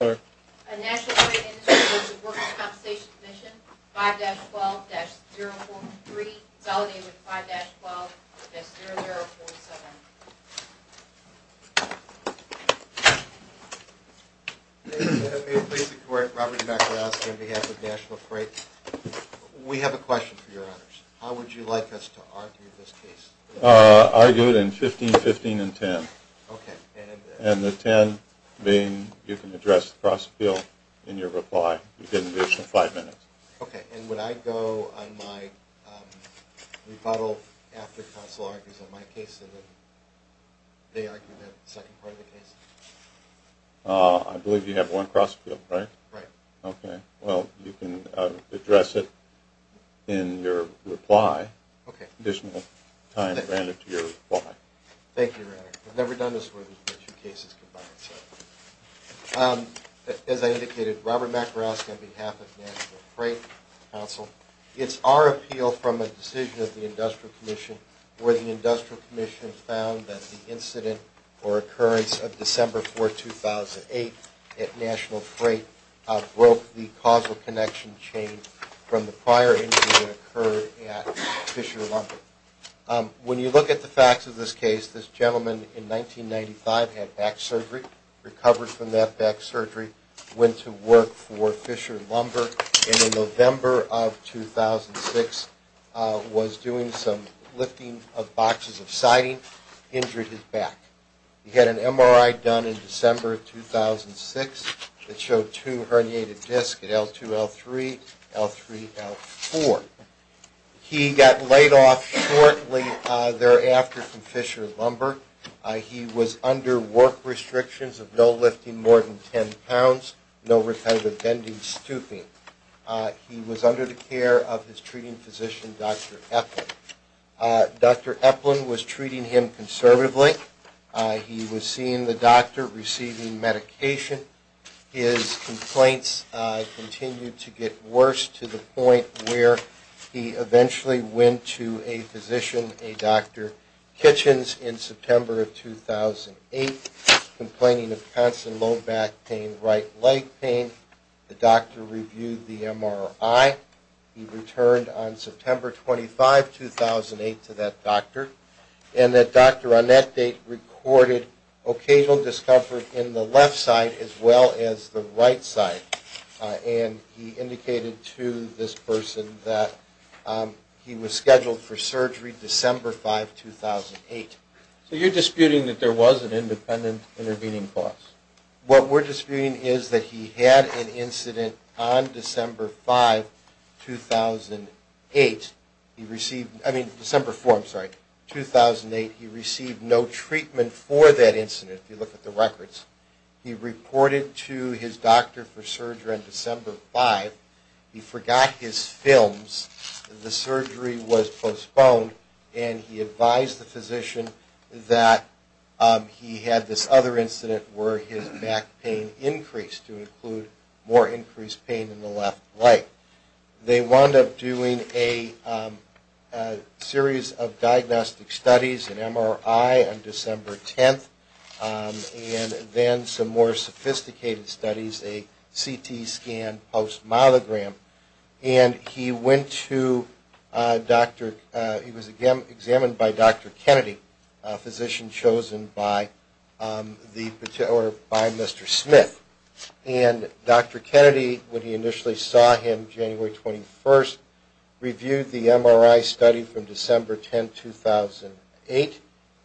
5-12-043, consolidated 5-12-0047. May it please the court, Robert Macalosky on behalf of National Freight. We have a question for your honors. How would you like us to argue this case? Argue it in 15-15-10. And the 10 being you can address the cross-appeal in your reply. You get an additional 5 minutes. Okay, and would I go on my rebuttal after counsel argues on my case and then they argue that second part of the case? I believe you have one cross-appeal, right? Right. Okay, well, you can address it in your reply. Okay. Additional time granted to your reply. Thank you, your honor. I've never done this for the two cases combined, so. As I indicated, Robert Macalosky on behalf of National Freight Council. It's our appeal from a decision of the Industrial Commission where the Industrial Commission found that the incident or occurrence of December 4, 2008 at National Freight broke the causal connection chain from the prior incident occurred at Fisher Lumber. When you look at the facts of this case, this gentleman in 1995 had back surgery, recovered from that back surgery, went to work for Fisher Lumber, and in November of 2006 was doing some lifting of boxes of siding, injured his back. He had an MRI done in December of 2006 that showed two herniated discs at L2, L3, L3, L4. He got laid off shortly thereafter from Fisher Lumber. He was under work restrictions of no lifting more than 10 pounds, no repetitive bending, stooping. He was under the care of his treating physician, Dr. Eplin. Dr. Eplin was treating him conservatively. He was seeing the doctor, receiving medication. His complaints continued to get worse to the point where he eventually went to a physician, a Dr. Kitchens, in September of 2008, complaining of constant low back pain, right leg pain. The doctor reviewed the MRI. He returned on September 25, 2008, to that doctor. And that doctor on that date recorded occasional discomfort in the left side as well as the right side. And he indicated to this person that he was scheduled for surgery December 5, 2008. So you're disputing that there was an independent intervening cause? What we're disputing is that he had an incident on December 5, 2008. He received, I mean December 4, I'm sorry, 2008. He received no treatment for that incident, if you look at the records. He reported to his doctor for surgery on December 5. He forgot his films. The surgery was postponed. And he advised the physician that he had this other incident where his back pain increased to include more increased pain in the left leg. They wound up doing a series of diagnostic studies, an MRI on December 10, and then some more sophisticated studies, a CT scan post-molegram. And he went to a doctor. He was examined by Dr. Kennedy, a physician chosen by Mr. Smith. And Dr. Kennedy, when he initially saw him January 21, reviewed the MRI study from December 10, 2008,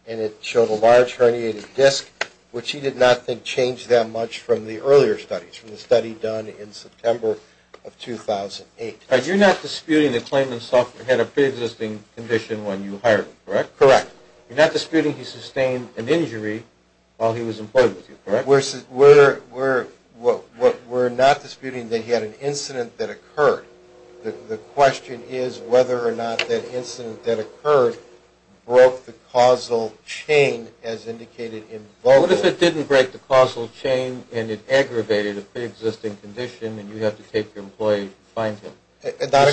and it showed a large herniated disc, which he did not think changed that much from the earlier studies, from the study done in September of 2008. You're not disputing the claimant had a preexisting condition when you hired him, correct? Correct. You're not disputing he sustained an injury while he was employed with you, correct? We're not disputing that he had an incident that occurred. The question is whether or not that incident that occurred broke the causal chain, as indicated in vocal. What if it didn't break the causal chain and it aggravated a preexisting condition and you have to take your employee to find him? Not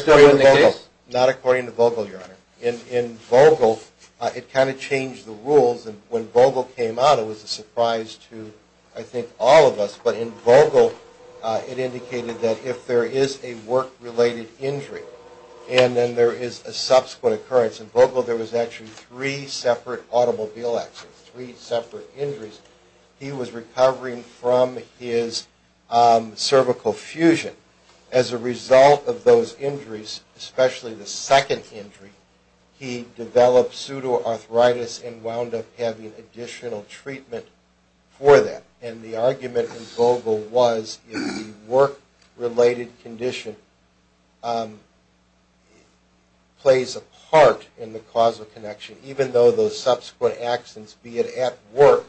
according to vocal, Your Honor. In vocal, it kind of changed the rules. And when vocal came out, it was a surprise to, I think, all of us. But in vocal, it indicated that if there is a work-related injury and then there is a subsequent occurrence, in vocal there was actually three separate automobile accidents, three separate injuries. He was recovering from his cervical fusion. As a result of those injuries, especially the second injury, he developed pseudoarthritis and wound up having additional treatment for that. And the argument in vocal was if the work-related condition plays a part in the causal connection, even though those subsequent accidents, be it at work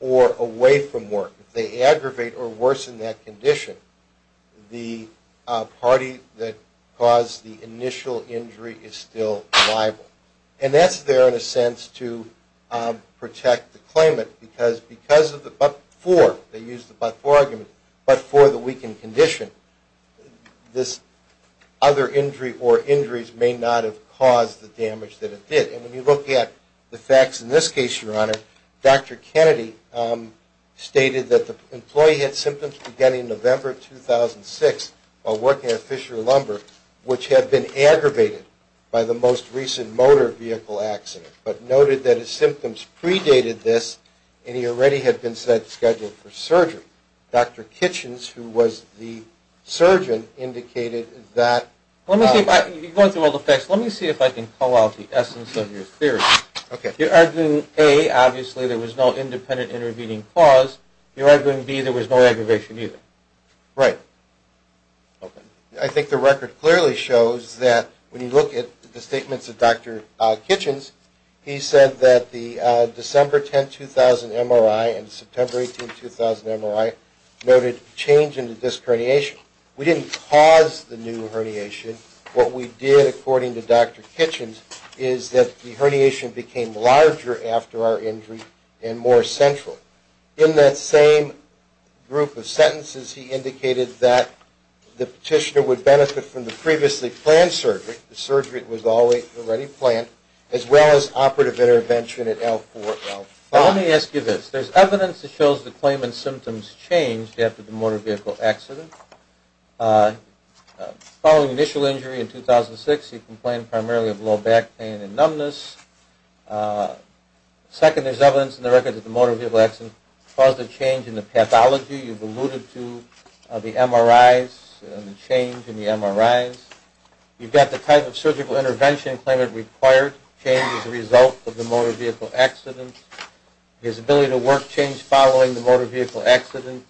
or away from work, if they aggravate or worsen that condition, the party that caused the initial injury is still liable. And that's there in a sense to protect the claimant. Because of the but-for, they used the but-for argument, but for the weakened condition, this other injury or injuries may not have caused the damage that it did. And when you look at the facts in this case, Your Honor, Dr. Kennedy stated that the employee had symptoms beginning November 2006 while working at Fisher Lumber, which had been aggravated by the most recent motor vehicle accident, but noted that his symptoms predated this and he already had been scheduled for surgery. Dr. Kitchens, who was the surgeon, indicated that... Let me see if I can call out the essence of your theory. You're arguing, A, obviously there was no independent intervening cause. You're arguing, B, there was no aggravation either. Right. Okay. I think the record clearly shows that when you look at the statements of Dr. Kitchens, he said that the December 10, 2000 MRI and September 18, 2000 MRI noted change in the disc herniation. We didn't cause the new herniation. What we did, according to Dr. Kitchens, is that the herniation became larger after our injury and more central. In that same group of sentences, he indicated that the petitioner would benefit from the previously planned surgery, the surgery was already planned, as well as operative intervention at L4, L5. Let me ask you this. There's evidence that shows the claimant's symptoms changed after the motor vehicle accident. Following initial injury in 2006, he complained primarily of low back pain and numbness. Second, there's evidence in the record that the motor vehicle accident caused a change in the pathology. You've alluded to the MRIs and the change in the MRIs. You've got the type of surgical intervention the claimant required changed as a result of the motor vehicle accident. His ability to work changed following the motor vehicle accident.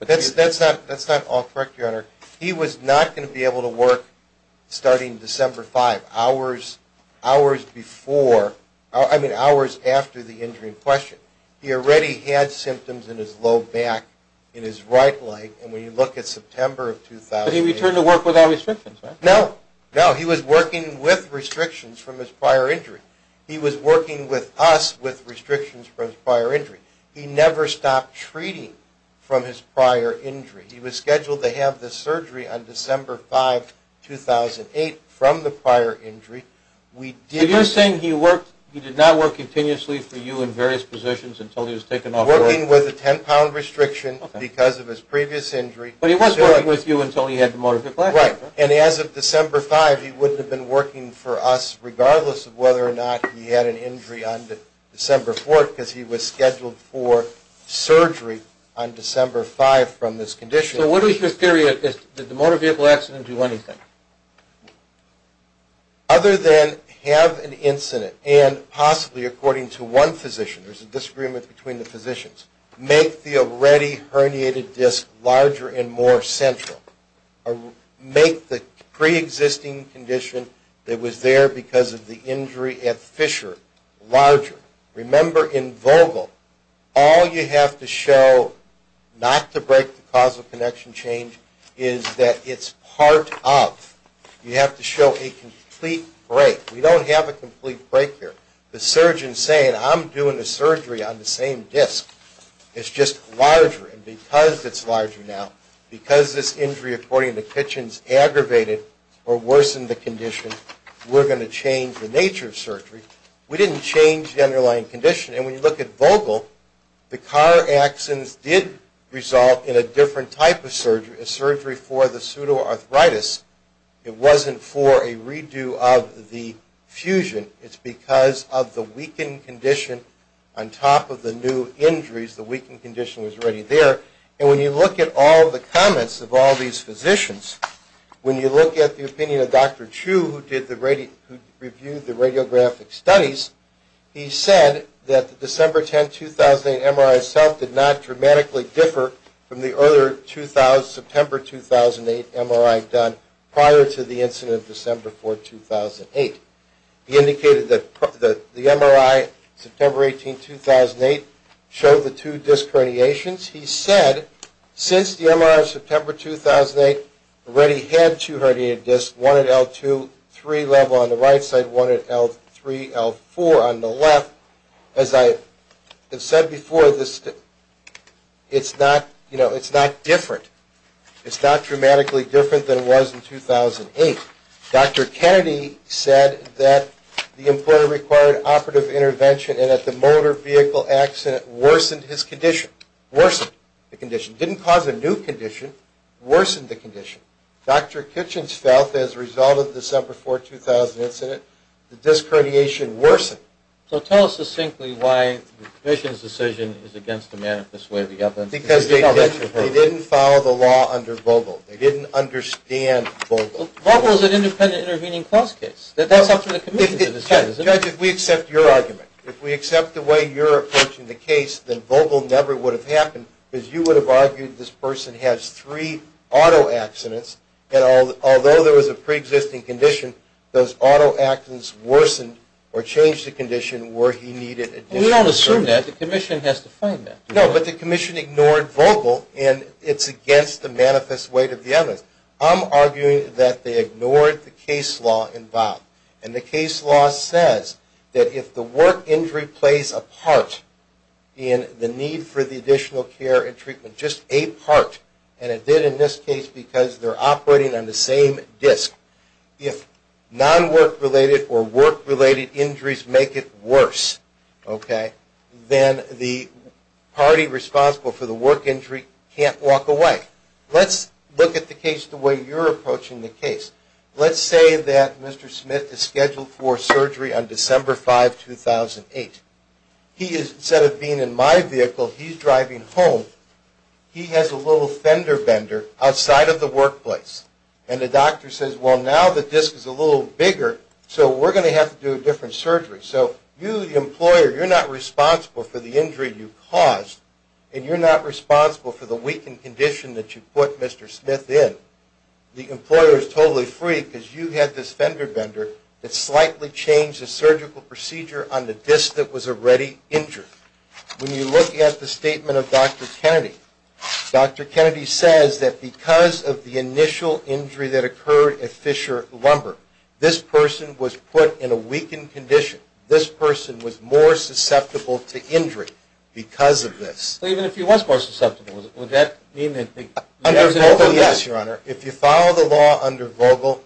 That's not all correct, Your Honor. He was not going to be able to work starting December 5, hours before, I mean hours after the injury in question. He already had symptoms in his low back, in his right leg, and when you look at September of 2008. But he returned to work without restrictions, right? No, no. He was working with restrictions from his prior injury. He was working with us with restrictions from his prior injury. He never stopped treating from his prior injury. He was scheduled to have the surgery on December 5, 2008 from the prior injury. You're saying he did not work continuously for you in various positions until he was taken off the road? Working with a 10-pound restriction because of his previous injury. But he was working with you until he had the motor vehicle accident, right? Right. And as of December 5, he wouldn't have been working for us regardless of whether or not he had an injury on December 4 because he was scheduled for surgery on December 5 from this condition. So what is your theory of this? Did the motor vehicle accident do anything? Other than have an incident and possibly, according to one physician, there's a disagreement between the physicians, make the already herniated disc larger and more central. Make the pre-existing condition that was there because of the injury at Fisher larger. Remember, in Vogel, all you have to show not to break the causal connection change is that it's part of. You have to show a complete break. We don't have a complete break here. The surgeon's saying, I'm doing the surgery on the same disc. It's just larger. And because it's larger now, because this injury, according to Kitchens, aggravated or worsened the condition, we're going to change the nature of surgery. We didn't change the underlying condition. And when you look at Vogel, the car accidents did result in a different type of surgery, a surgery for the pseudoarthritis. It wasn't for a redo of the fusion. It's because of the weakened condition on top of the new injuries. The weakened condition was already there. And when you look at all the comments of all these physicians, when you look at the opinion of Dr. Chu, who reviewed the radiographic studies, he said that the December 10, 2008 MRI itself did not dramatically differ from the earlier September 2008 MRI done prior to the incident of December 4, 2008. He indicated that the MRI September 18, 2008 showed the two disc herniations. He said since the MRI September 2008 already had two herniated discs, one at L2, three level on the right side, one at L3, L4 on the left, as I have said before, it's not different. It's not dramatically different than it was in 2008. Dr. Kennedy said that the employer required operative intervention and that the motor vehicle accident worsened his condition, worsened the condition. It didn't cause a new condition, it worsened the condition. Dr. Kitchens felt as a result of the December 4, 2008 incident, the disc herniation worsened. So tell us succinctly why the commission's decision is against the manifest way of the evidence. Because they didn't follow the law under Vogel. They didn't understand Vogel. Vogel is an independent intervening clause case. That's up to the commission to decide, isn't it? Judge, if we accept your argument, if we accept the way you're approaching the case, then Vogel never would have happened because you would have argued this person has three auto accidents and although there was a preexisting condition, those auto accidents worsened or changed the condition where he needed additional surgery. We don't assume that. The commission has to find that. No, but the commission ignored Vogel and it's against the manifest way of the evidence. I'm arguing that they ignored the case law in Bob. And the case law says that if the work injury plays a part in the need for the additional care and treatment, just a part, and it did in this case because they're operating on the same disc, if non-work related or work related injuries make it worse, okay, then the party responsible for the work injury can't walk away. Let's look at the case the way you're approaching the case. Let's say that Mr. Smith is scheduled for surgery on December 5, 2008. Instead of being in my vehicle, he's driving home. He has a little fender bender outside of the workplace. And the doctor says, well, now the disc is a little bigger, so we're going to have to do a different surgery. So you, the employer, you're not responsible for the injury you caused and you're not responsible for the weakened condition that you put Mr. Smith in. The employer is totally free because you had this fender bender that slightly changed the surgical procedure on the disc that was already injured. When you look at the statement of Dr. Kennedy, Dr. Kennedy says that because of the initial injury that occurred at Fisher Lumber, this person was put in a weakened condition. This person was more susceptible to injury because of this. So even if he was more susceptible, would that mean that there was an injury? Yes, Your Honor. If you follow the law under Vogel,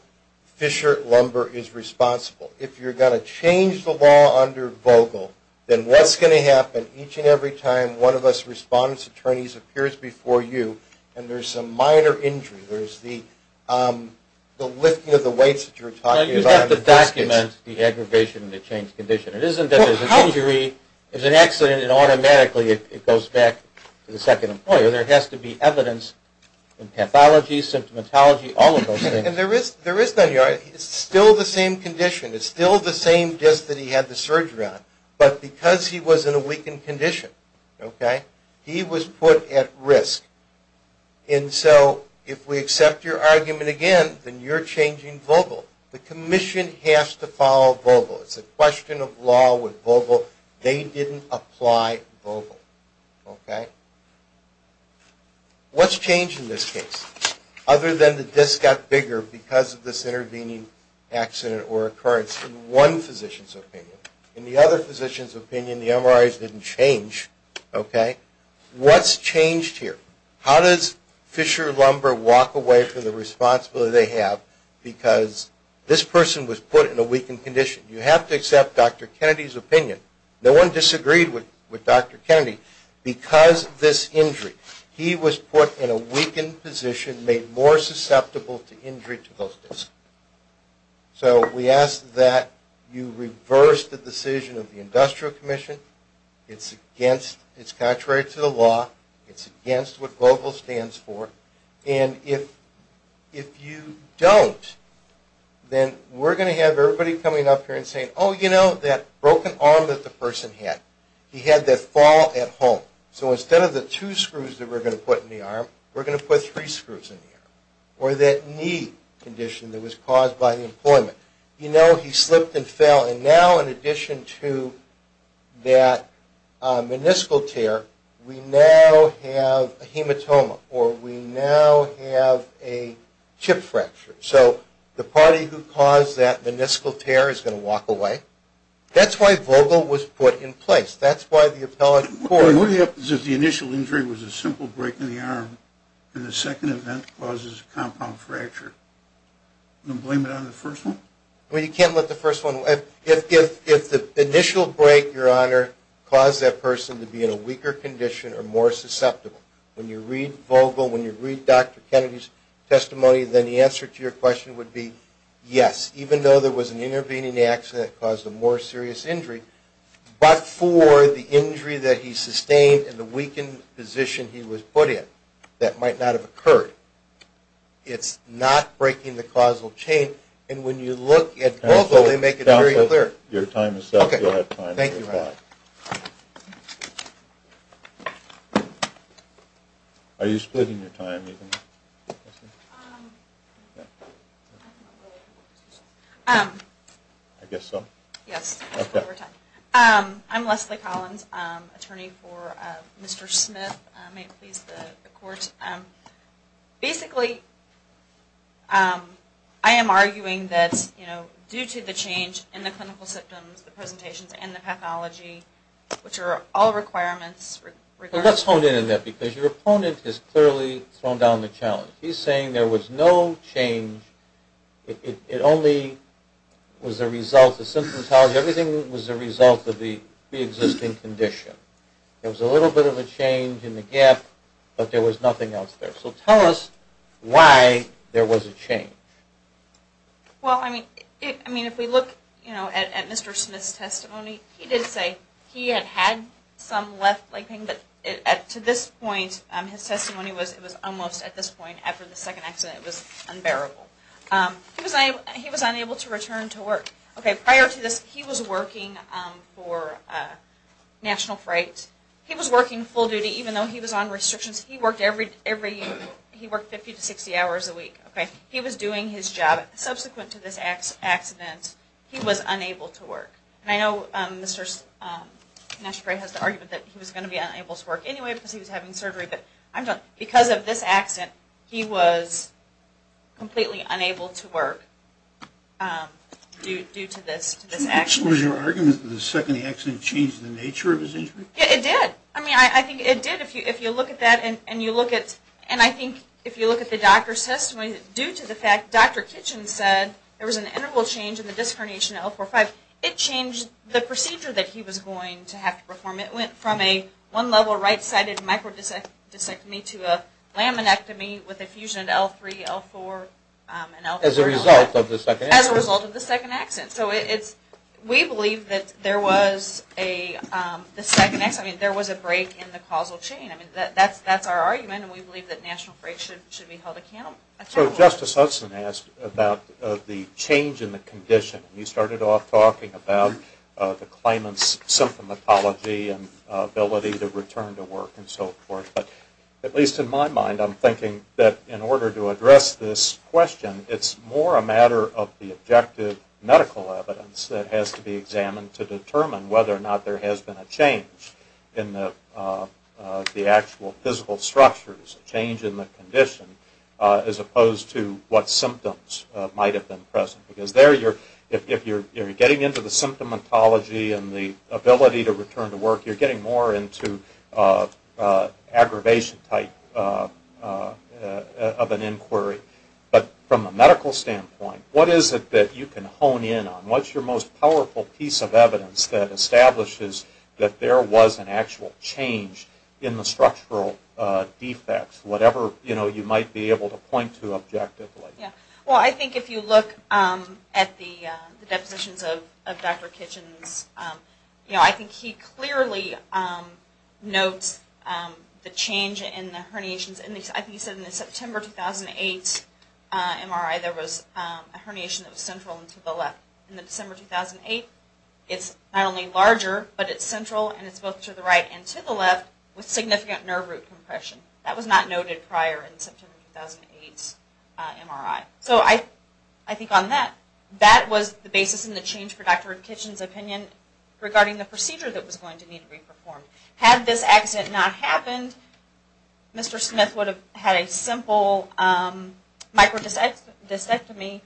Fisher Lumber is responsible. If you're going to change the law under Vogel, then what's going to happen each and every time one of us respondents, attorneys, appears before you and there's some minor injury, there's the lifting of the weights that you were talking about. You'd have to document the aggravation and the changed condition. It isn't that there's an injury, there's an accident, and automatically it goes back to the second employer. There has to be evidence in pathology, symptomatology, all of those things. And there is none, Your Honor. It's still the same condition. It's still the same disc that he had the surgery on, but because he was in a weakened condition, okay, he was put at risk. And so if we accept your argument again, then you're changing Vogel. The commission has to follow Vogel. It's a question of law with Vogel. They didn't apply Vogel, okay? What's changed in this case? Other than the disc got bigger because of this intervening accident or occurrence in one physician's opinion. In the other physician's opinion, the MRIs didn't change, okay? What's changed here? How does Fisher Lumber walk away from the responsibility they have because this person was put in a weakened condition? You have to accept Dr. Kennedy's opinion. No one disagreed with Dr. Kennedy because of this injury. He was put in a weakened position, made more susceptible to injury to those discs. So we ask that you reverse the decision of the Industrial Commission. It's contrary to the law. It's against what Vogel stands for. And if you don't, then we're going to have everybody coming up here and saying, oh, you know, that broken arm that the person had, he had that fall at home. So instead of the two screws that we're going to put in the arm, we're going to put three screws in the arm. Or that knee condition that was caused by the employment. You know, he slipped and fell. And now in addition to that meniscal tear, we now have a hematoma, or we now have a chip fracture. So the party who caused that meniscal tear is going to walk away. That's why Vogel was put in place. That's why the appellate court. What happens if the initial injury was a simple break in the arm and the second event causes a compound fracture? You going to blame it on the first one? Well, you can't let the first one. If the initial break, Your Honor, caused that person to be in a weaker condition or more susceptible, when you read Vogel, when you read Dr. Kennedy's testimony, then the answer to your question would be yes, even though there was an intervening action that caused a more serious injury, but for the injury that he sustained and the weakened position he was put in that might not have occurred. It's not breaking the causal chain. And when you look at Vogel, they make it very clear. Counsel, your time is up. You'll have time to reply. Thank you, Your Honor. Are you splitting your time? I guess so. Yes. I'm Leslie Collins, attorney for Mr. Smith. May it please the Court. Basically, I am arguing that, you know, due to the change in the clinical symptoms, the presentations, and the pathology, which are all requirements. Well, let's hone in on that because your opponent has clearly thrown down the challenge. He's saying there was no change. It only was a result of symptomatology. Everything was a result of the existing condition. There was a little bit of a change in the gap, but there was nothing else there. So tell us why there was a change. Well, I mean, if we look, you know, at Mr. Smith's testimony, he did say he had had some left leg pain, but to this point, his testimony was it was almost, at this point, after the second accident, it was unbearable. He was unable to return to work. Okay, prior to this, he was working for National Freight. He was working full duty, even though he was on restrictions. He worked 50 to 60 hours a week. He was doing his job. Subsequent to this accident, he was unable to work. And I know National Freight has the argument that he was going to be unable to work anyway because he was having surgery, but because of this accident, he was completely unable to work due to this accident. Was your argument that the second accident changed the nature of his injury? Yeah, it did. I mean, I think it did. If you look at that and you look at, and I think if you look at the doctor's testimony, due to the fact, Dr. Kitchen said there was an interval change in the disc herniation at L4-5, it changed the procedure that he was going to have to perform. It went from a one-level right-sided microdiscectomy to a laminectomy with a fusion at L3, L4, and L5. As a result of the second accident. As a result of the second accident. So we believe that there was a break in the causal chain. I mean, that's our argument, and we believe that National Freight should be held accountable. So Justice Hudson asked about the change in the condition. He started off talking about the claimant's symptomatology and ability to return to work and so forth. But at least in my mind, I'm thinking that in order to address this question, it's more a matter of the objective medical evidence that has to be examined to determine whether or not there has been a change in the actual physical structures, a change in the condition, as opposed to what symptoms might have been present. Because there, if you're getting into the symptomatology and the ability to return to work, you're getting more into aggravation type of an inquiry. But from a medical standpoint, what is it that you can hone in on? What's your most powerful piece of evidence that establishes that there was an actual change in the structural defects, whatever you might be able to point to objectively? Well, I think if you look at the depositions of Dr. Kitchens, I think he clearly notes the change in the herniations. I think he said in the September 2008 MRI, there was a herniation that was central and to the left. In the December 2008, it's not only larger, but it's central and it's both to the right and to the left with significant nerve root compression. That was not noted prior in the September 2008 MRI. So I think on that, that was the basis in the change for Dr. Kitchens' opinion regarding the procedure that was going to need to be performed. Had this accident not happened, Mr. Smith would have had a simple microdysectomy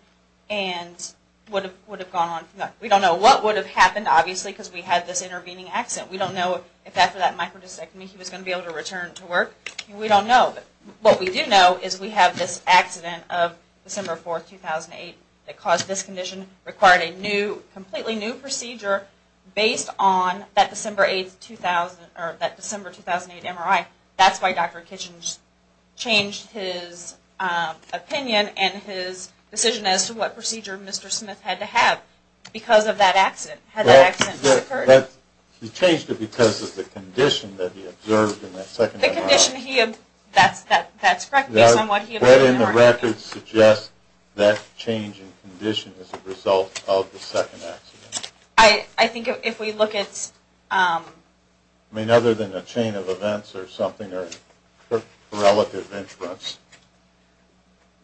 and would have gone on from that. We don't know what would have happened, obviously, because we had this intervening accident. We don't know if after that microdysectomy he was going to be able to return to work. We don't know. What we do know is we have this accident of December 4, 2008 that caused this condition, required a completely new procedure based on that December 2008 MRI. That's why Dr. Kitchens changed his opinion and his decision as to what procedure Mr. Smith had to have because of that accident. Had that accident not occurred? He changed it because of the condition that he observed in that second MRI. That's correct, based on what he observed in the MRI. I could suggest that change in condition is a result of the second accident. I think if we look at... I mean, other than a chain of events or something or relative influence.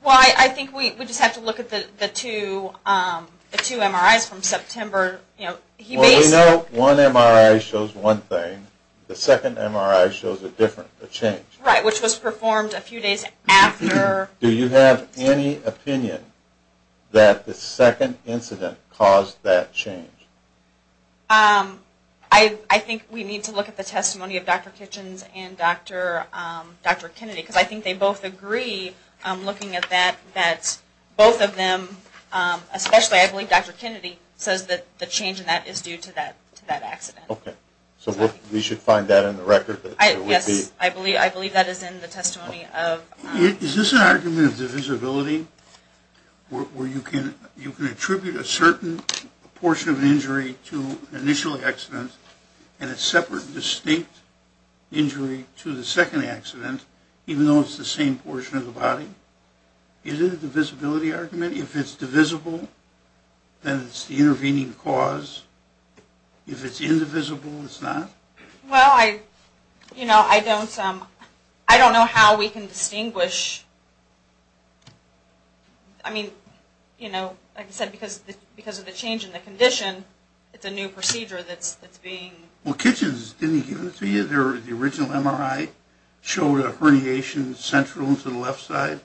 Well, I think we just have to look at the two MRIs from September. Well, we know one MRI shows one thing. The second MRI shows a different change. Right, which was performed a few days after... Do you have any opinion that the second incident caused that change? I think we need to look at the testimony of Dr. Kitchens and Dr. Kennedy because I think they both agree, looking at that, that both of them, especially I believe Dr. Kennedy, says that the change in that is due to that accident. Okay, so we should find that in the record. Yes, I believe that is in the testimony of... Is this an argument of divisibility, where you can attribute a certain portion of an injury to an initial accident and a separate distinct injury to the second accident, even though it's the same portion of the body? Is it a divisibility argument? If it's divisible, then it's the intervening cause. If it's indivisible, it's not? Well, you know, I don't know how we can distinguish... I mean, you know, like I said, because of the change in the condition, it's a new procedure that's being... Well, Kitchens, didn't he give it to you? The original MRI showed a herniation central to the left side.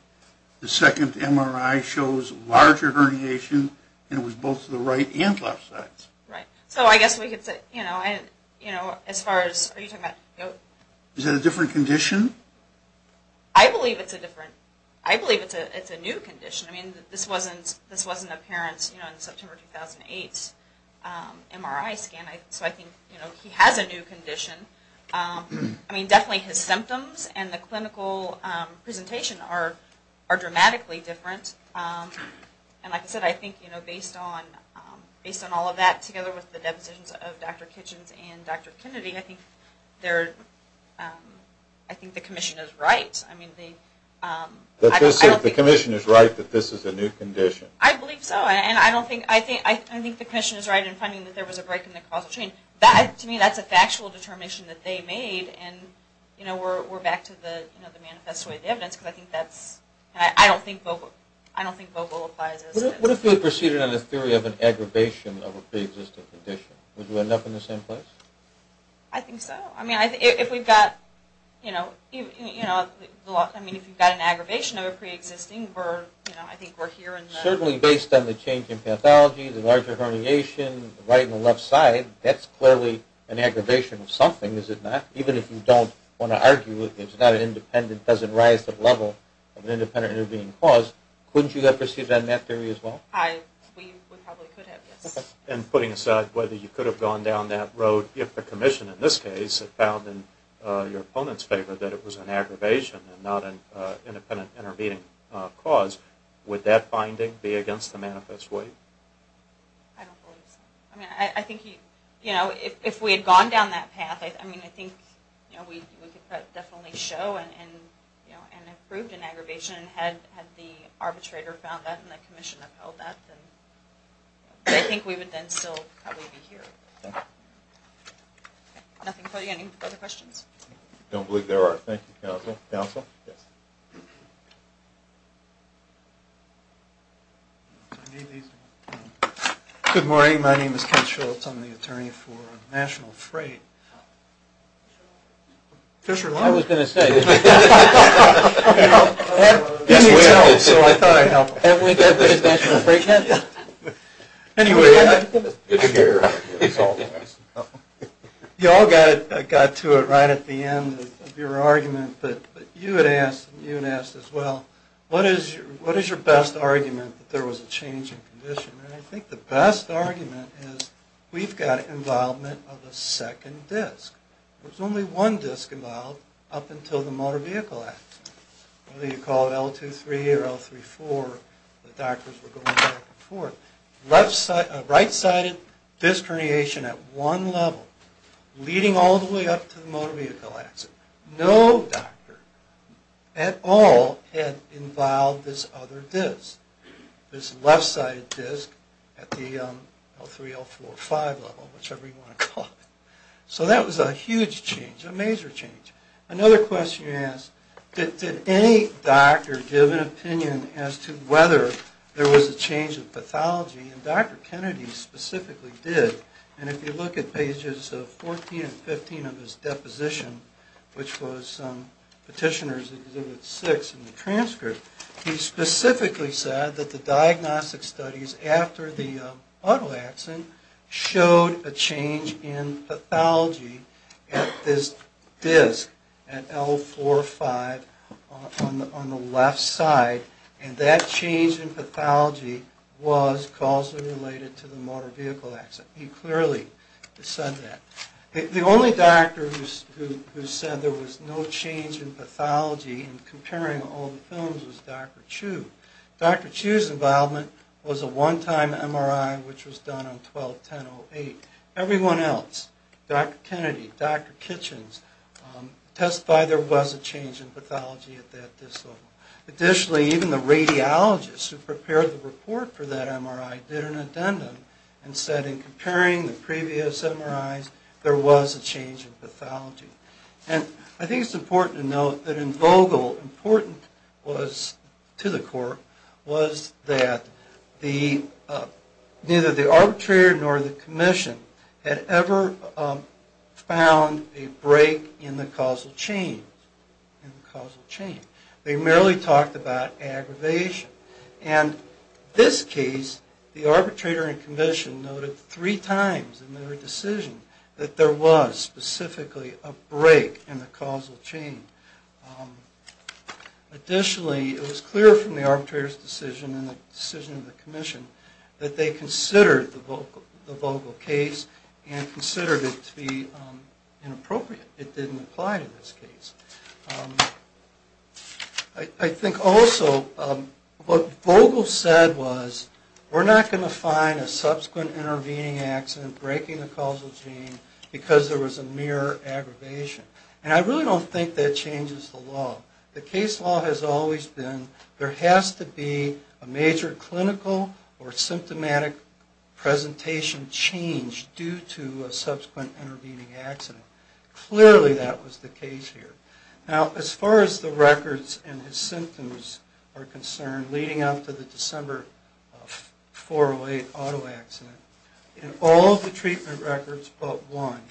The second MRI shows larger herniation, and it was both to the right and left sides. Right, so I guess we could say, you know, as far as... Are you talking about... Is that a different condition? I believe it's a different... I believe it's a new condition. I mean, this wasn't apparent in September 2008's MRI scan, so I think he has a new condition. I mean, definitely his symptoms and the clinical presentation are dramatically different. And like I said, I think, you know, based on all of that, together with the depositions of Dr. Kitchens and Dr. Kennedy, I think the commission is right. The commission is right that this is a new condition? I believe so, and I don't think... I think the commission is right in finding that there was a break in the causal chain. To me, that's a factual determination that they made, and, you know, we're back to the manifesto of the evidence, because I think that's... I don't think Vogel applies as... What if we proceeded on the theory of an aggravation of a pre-existing condition? Would you end up in the same place? I think so. I mean, if we've got, you know, I mean, if you've got an aggravation of a pre-existing, I think we're here in the... Certainly based on the change in pathology, the larger herniation, the right and the left side, that's clearly an aggravation of something, is it not? Even if you don't want to argue that it's not an independent, doesn't rise to the level of an independent intervening cause, couldn't you have proceeded on that theory as well? We probably could have, yes. And putting aside whether you could have gone down that road, if the commission in this case had found in your opponent's favor that it was an aggravation and not an independent intervening cause, would that finding be against the manifest way? I don't believe so. I mean, I think, you know, if we had gone down that path, I mean, I think, you know, we could definitely show and have proved an aggravation, and had the arbitrator found that and the commission upheld that, then I think we would then still probably be here. Okay. Nothing for you. Any other questions? I don't believe there are. Thank you, counsel. Counsel? Yes. Good morning. My name is Ken Schultz. I'm the attorney for National Freight. I was going to say. You all got to it right at the end of your argument, but you had asked, and you had asked as well, what is your best argument that there was a change in condition? I think the best argument is we've got involvement of a second disc. There was only one disc involved up until the motor vehicle accident. Whether you call it L2-3 or L3-4, the doctors were going back and forth. Right-sided disc herniation at one level, leading all the way up to the motor vehicle accident. No doctor at all had involved this other disc. This left-sided disc at the L3, L4, L5 level, whichever you want to call it. So that was a huge change, a major change. Another question you asked, did any doctor give an opinion as to whether there was a change in pathology? And Dr. Kennedy specifically did. And if you look at pages 14 and 15 of his deposition, which was Petitioner's Exhibit 6 in the transcript, he specifically said that the diagnostic studies after the auto accident showed a change in pathology at this disc, at L4-5 on the left side, and that change in pathology was causally related to the motor vehicle accident. He clearly said that. Another person who was involved in the study and comparing all the films was Dr. Chu. Dr. Chu's involvement was a one-time MRI, which was done on 12-10-08. Everyone else, Dr. Kennedy, Dr. Kitchens, testified there was a change in pathology at that disc level. Additionally, even the radiologists who prepared the report for that MRI did an addendum and said in comparing the previous MRIs, there was a change in pathology. And I think it's important to note that in Vogel, important to the court was that neither the arbitrator nor the commission had ever found a break in the causal chain. They merely talked about aggravation. And this case, the arbitrator and commission noted three times in their decision that there was specifically a break in the causal chain. Additionally, it was clear from the arbitrator's decision and the decision of the commission that they considered the Vogel case and considered it to be inappropriate. It didn't apply to this case. I think also what Vogel said was, we're not going to find a subsequent intervening accident breaking the causal chain because there was a mere aggravation. And I really don't think that changes the law. The case law has always been, there has to be a major clinical or symptomatic presentation change due to a subsequent intervening accident. Clearly that was the case here. Now, as far as the records and his symptoms are concerned, leading up to the December 4-08 auto accident, in all of the treatment records but one,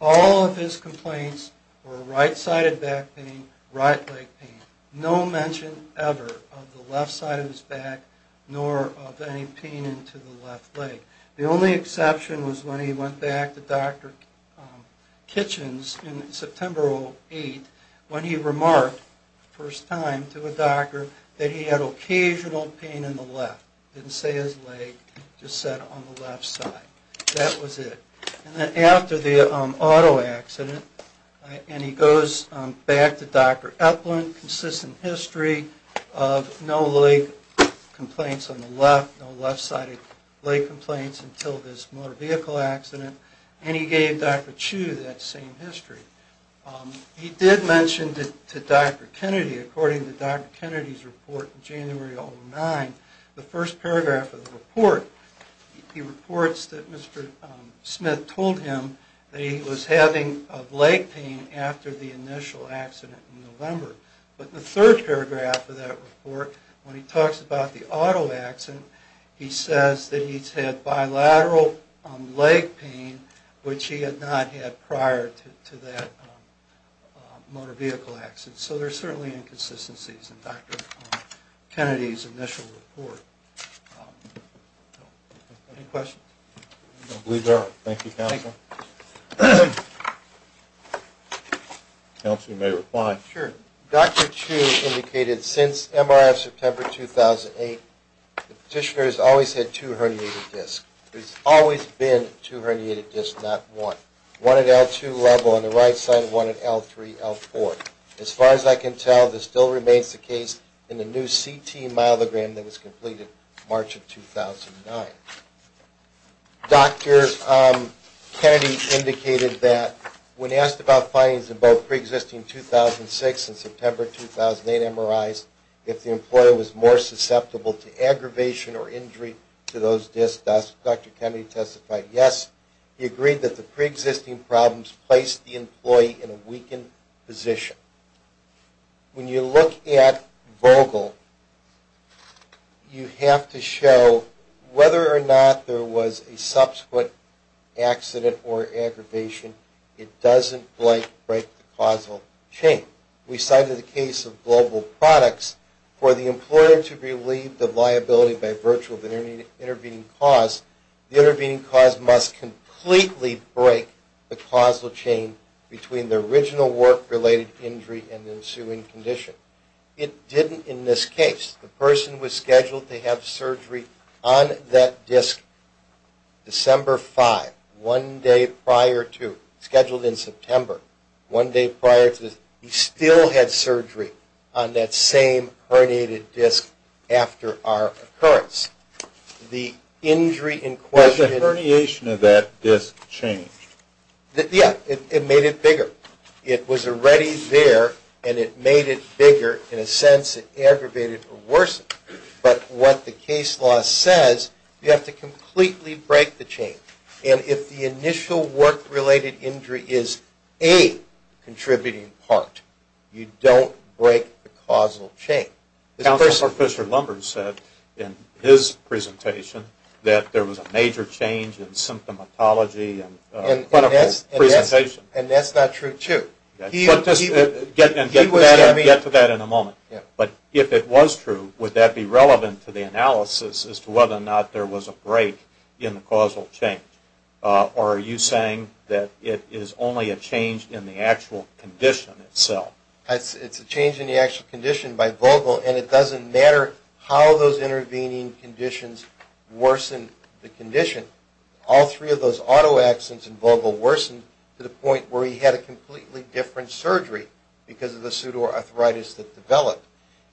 all of his complaints were right-sided back pain, right leg pain. No mention ever of the left side of his back nor of any pain into the left leg. The only exception was when he went back to Dr. Kitchens in September 08 when he remarked the first time to a doctor that he had occasional pain in the left. Didn't say his leg, just said on the left side. That was it. And then after the auto accident, and he goes back to Dr. Eplin, consistent history of no leg complaints on the left, no left-sided leg complaints until this motor vehicle accident, and he gave Dr. Chu that same history. He did mention to Dr. Kennedy, according to Dr. Kennedy's report in January 09, the first paragraph of the report, he reports that Mr. Smith told him that he was having leg pain after the initial accident in November. But the third paragraph of that report, when he talks about the auto accident, he says that he's had bilateral leg pain, which he had not had prior to that motor vehicle accident. So there are certainly inconsistencies in Dr. Kennedy's initial report. Any questions? I believe there are. Thank you, Counselor. Counselor, you may reply. Sure. Dr. Chu indicated since MRF September 2008, the petitioner has always had two herniated discs. There's always been two herniated discs, not one. One at L2 level on the right side, one at L3, L4. As far as I can tell, this still remains the case in the new CT myelogram that was completed March of 2009. Dr. Kennedy indicated that when asked about findings in both preexisting 2006 and September 2008 MRIs, if the employer was more susceptible to aggravation or injury to those discs Dr. Kennedy testified yes. He agreed that the preexisting problems placed the employee in a weakened position. When you look at Vogel, you have to show whether or not there was a subsequent accident or aggravation. It doesn't break the causal chain. We cited the case of Global Products. For the employer to relieve the liability by virtue of an intervening cause, the intervening cause must completely break the causal chain between the original work-related injury and the ensuing condition. It didn't in this case. The person was scheduled to have surgery on that disc December 5, one day prior to, scheduled in September, one day prior to. He still had surgery on that same herniated disc after our occurrence. The injury in question... The herniation of that disc changed. Yeah, it made it bigger. It was already there, and it made it bigger. In a sense, it aggravated or worsened. But what the case law says, you have to completely break the chain. And if the initial work-related injury is a contributing part, you don't break the causal chain. Counselor Fisher-Lumber said in his presentation that there was a major change in symptomatology and clinical presentation. And that's not true, too. We'll get to that in a moment. ...as to whether or not there was a break in the causal chain. Or are you saying that it is only a change in the actual condition itself? It's a change in the actual condition by Vogel, and it doesn't matter how those intervening conditions worsen the condition. All three of those autoaccidents in Vogel worsened to the point where he had a completely different surgery because of the pseudoarthritis that developed.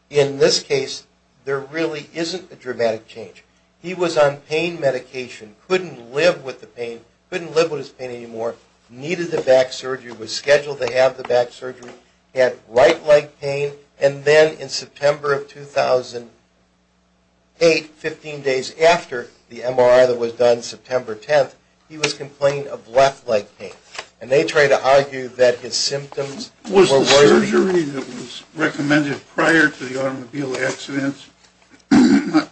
In this case, there really isn't a dramatic change. He was on pain medication, couldn't live with the pain, couldn't live with his pain anymore, needed the back surgery, was scheduled to have the back surgery, had right leg pain, and then in September of 2008, 15 days after the MRI that was done September 10th, he was complaining of left leg pain. And they try to argue that his symptoms were worsening. Was the surgery that was recommended prior to the automobile accidents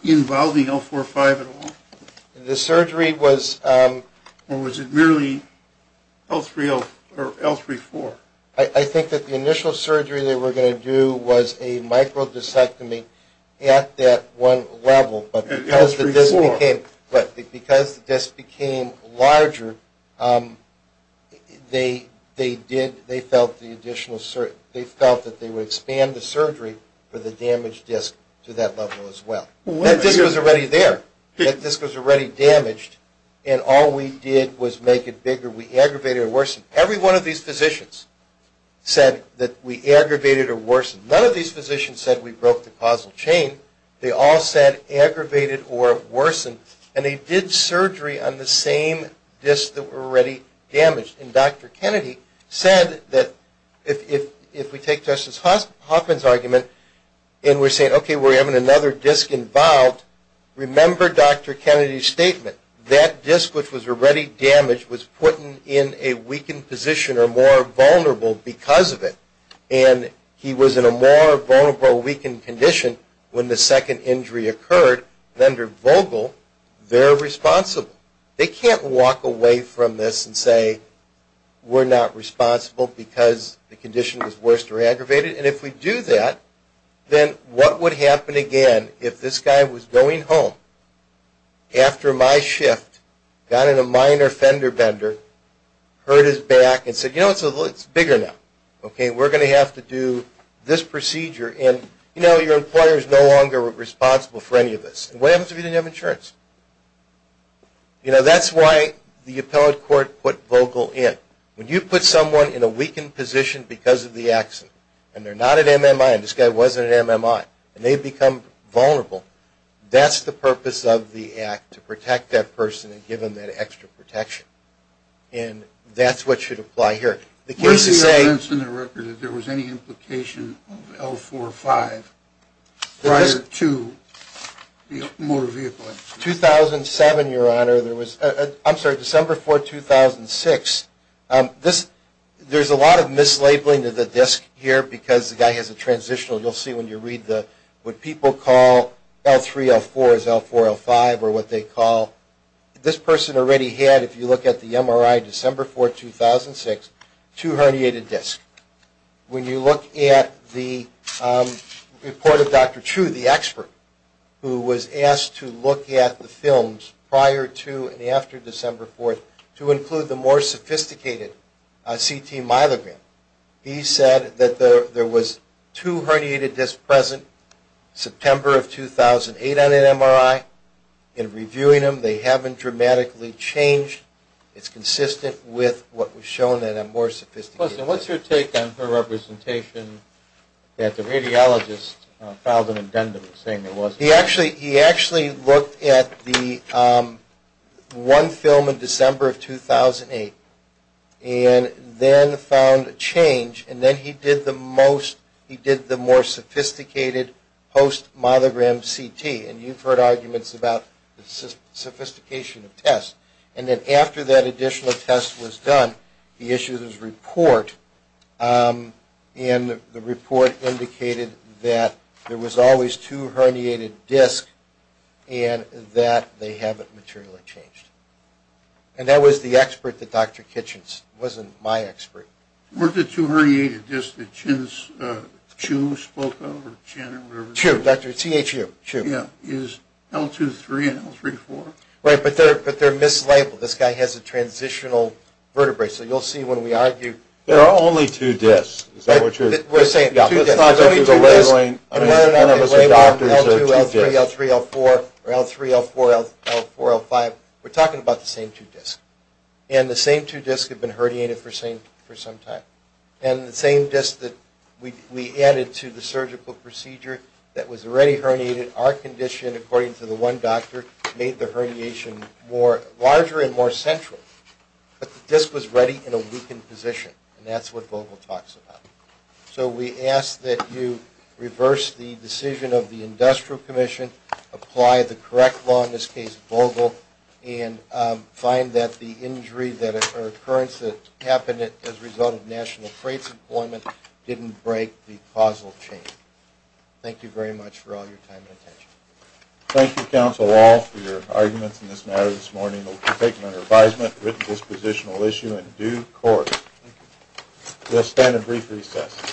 involving L45 at all? The surgery was... Or was it merely L34? I think that the initial surgery they were going to do was a microdiscectomy at that one level. At L34? Because the disc became larger, they felt that they would expand the surgery for the damaged disc to that level as well. That disc was already there. That disc was already damaged, and all we did was make it bigger. We aggravated or worsened. Every one of these physicians said that we aggravated or worsened. None of these physicians said we broke the causal chain. They all said aggravated or worsened. And they did surgery on the same disc that were already damaged. And Dr. Kennedy said that if we take Justice Hoffman's argument and we're saying, okay, we're having another disc involved, remember Dr. Kennedy's statement. That disc which was already damaged was put in a weakened position or more vulnerable because of it. And he was in a more vulnerable weakened condition when the second injury occurred. And under Vogel, they're responsible. They can't walk away from this and say we're not responsible because the condition was worse or aggravated. And if we do that, then what would happen again if this guy was going home after my shift, got in a minor fender bender, hurt his back, and said, you know, it's bigger now. Okay, we're going to have to do this procedure. And, you know, your employer is no longer responsible for any of this. And what happens if you didn't have insurance? You know, that's why the appellate court put Vogel in. When you put someone in a weakened position because of the accident, and they're not at MMI, and this guy wasn't at MMI, and they become vulnerable, that's the purpose of the act to protect that person and give them that extra protection. And that's what should apply here. Where's the evidence in the record that there was any implication of L4-5 prior to the motor vehicle accident? 2007, Your Honor. I'm sorry, December 4, 2006. There's a lot of mislabeling of the disk here because the guy has a transitional. You'll see when you read what people call L3-L4 is L4-L5 or what they call. Well, this person already had, if you look at the MRI, December 4, 2006, two herniated disks. When you look at the report of Dr. Chu, the expert, who was asked to look at the films prior to and after December 4th to include the more sophisticated CT myelogram, he said that there was two herniated disks present September of 2008 on an MRI. In reviewing them, they haven't dramatically changed. It's consistent with what was shown in a more sophisticated. What's your take on her representation that the radiologist filed an addendum saying there wasn't? He actually looked at the one film in December of 2008 and then found a change, and then he did the more sophisticated post-myelogram CT. And you've heard arguments about the sophistication of tests. And then after that additional test was done, he issued his report, and the report indicated that there was always two herniated disks and that they haven't materially changed. And that was the expert that Dr. Kitchens, wasn't my expert. Weren't the two herniated disks that Chu spoke of? Chu, Dr. T.H. Chu. Is L2-3 and L3-4? Right, but they're mislabeled. This guy has a transitional vertebrae. So you'll see when we argue. There are only two disks. Is that what you're saying? We're saying two disks. There's only two disks. And we're not going to label them L2, L3, L4 or L3, L4, L5. We're talking about the same two disks. And the same two disks have been herniated for some time. And the same disks that we added to the surgical procedure that was already herniated, our condition, according to the one doctor, made the herniation larger and more central. But the disk was ready in a weakened position, and that's what Vogel talks about. So we ask that you reverse the decision of the Industrial Commission, apply the correct law, in this case Vogel, and find that the injury or occurrence that happened as a result of National Freight's employment didn't break the causal chain. Thank you very much for all your time and attention. Thank you, Counsel Wall, for your arguments in this matter this morning. We'll take them under advisement, a written dispositional issue, and due court. We'll stand at brief recess.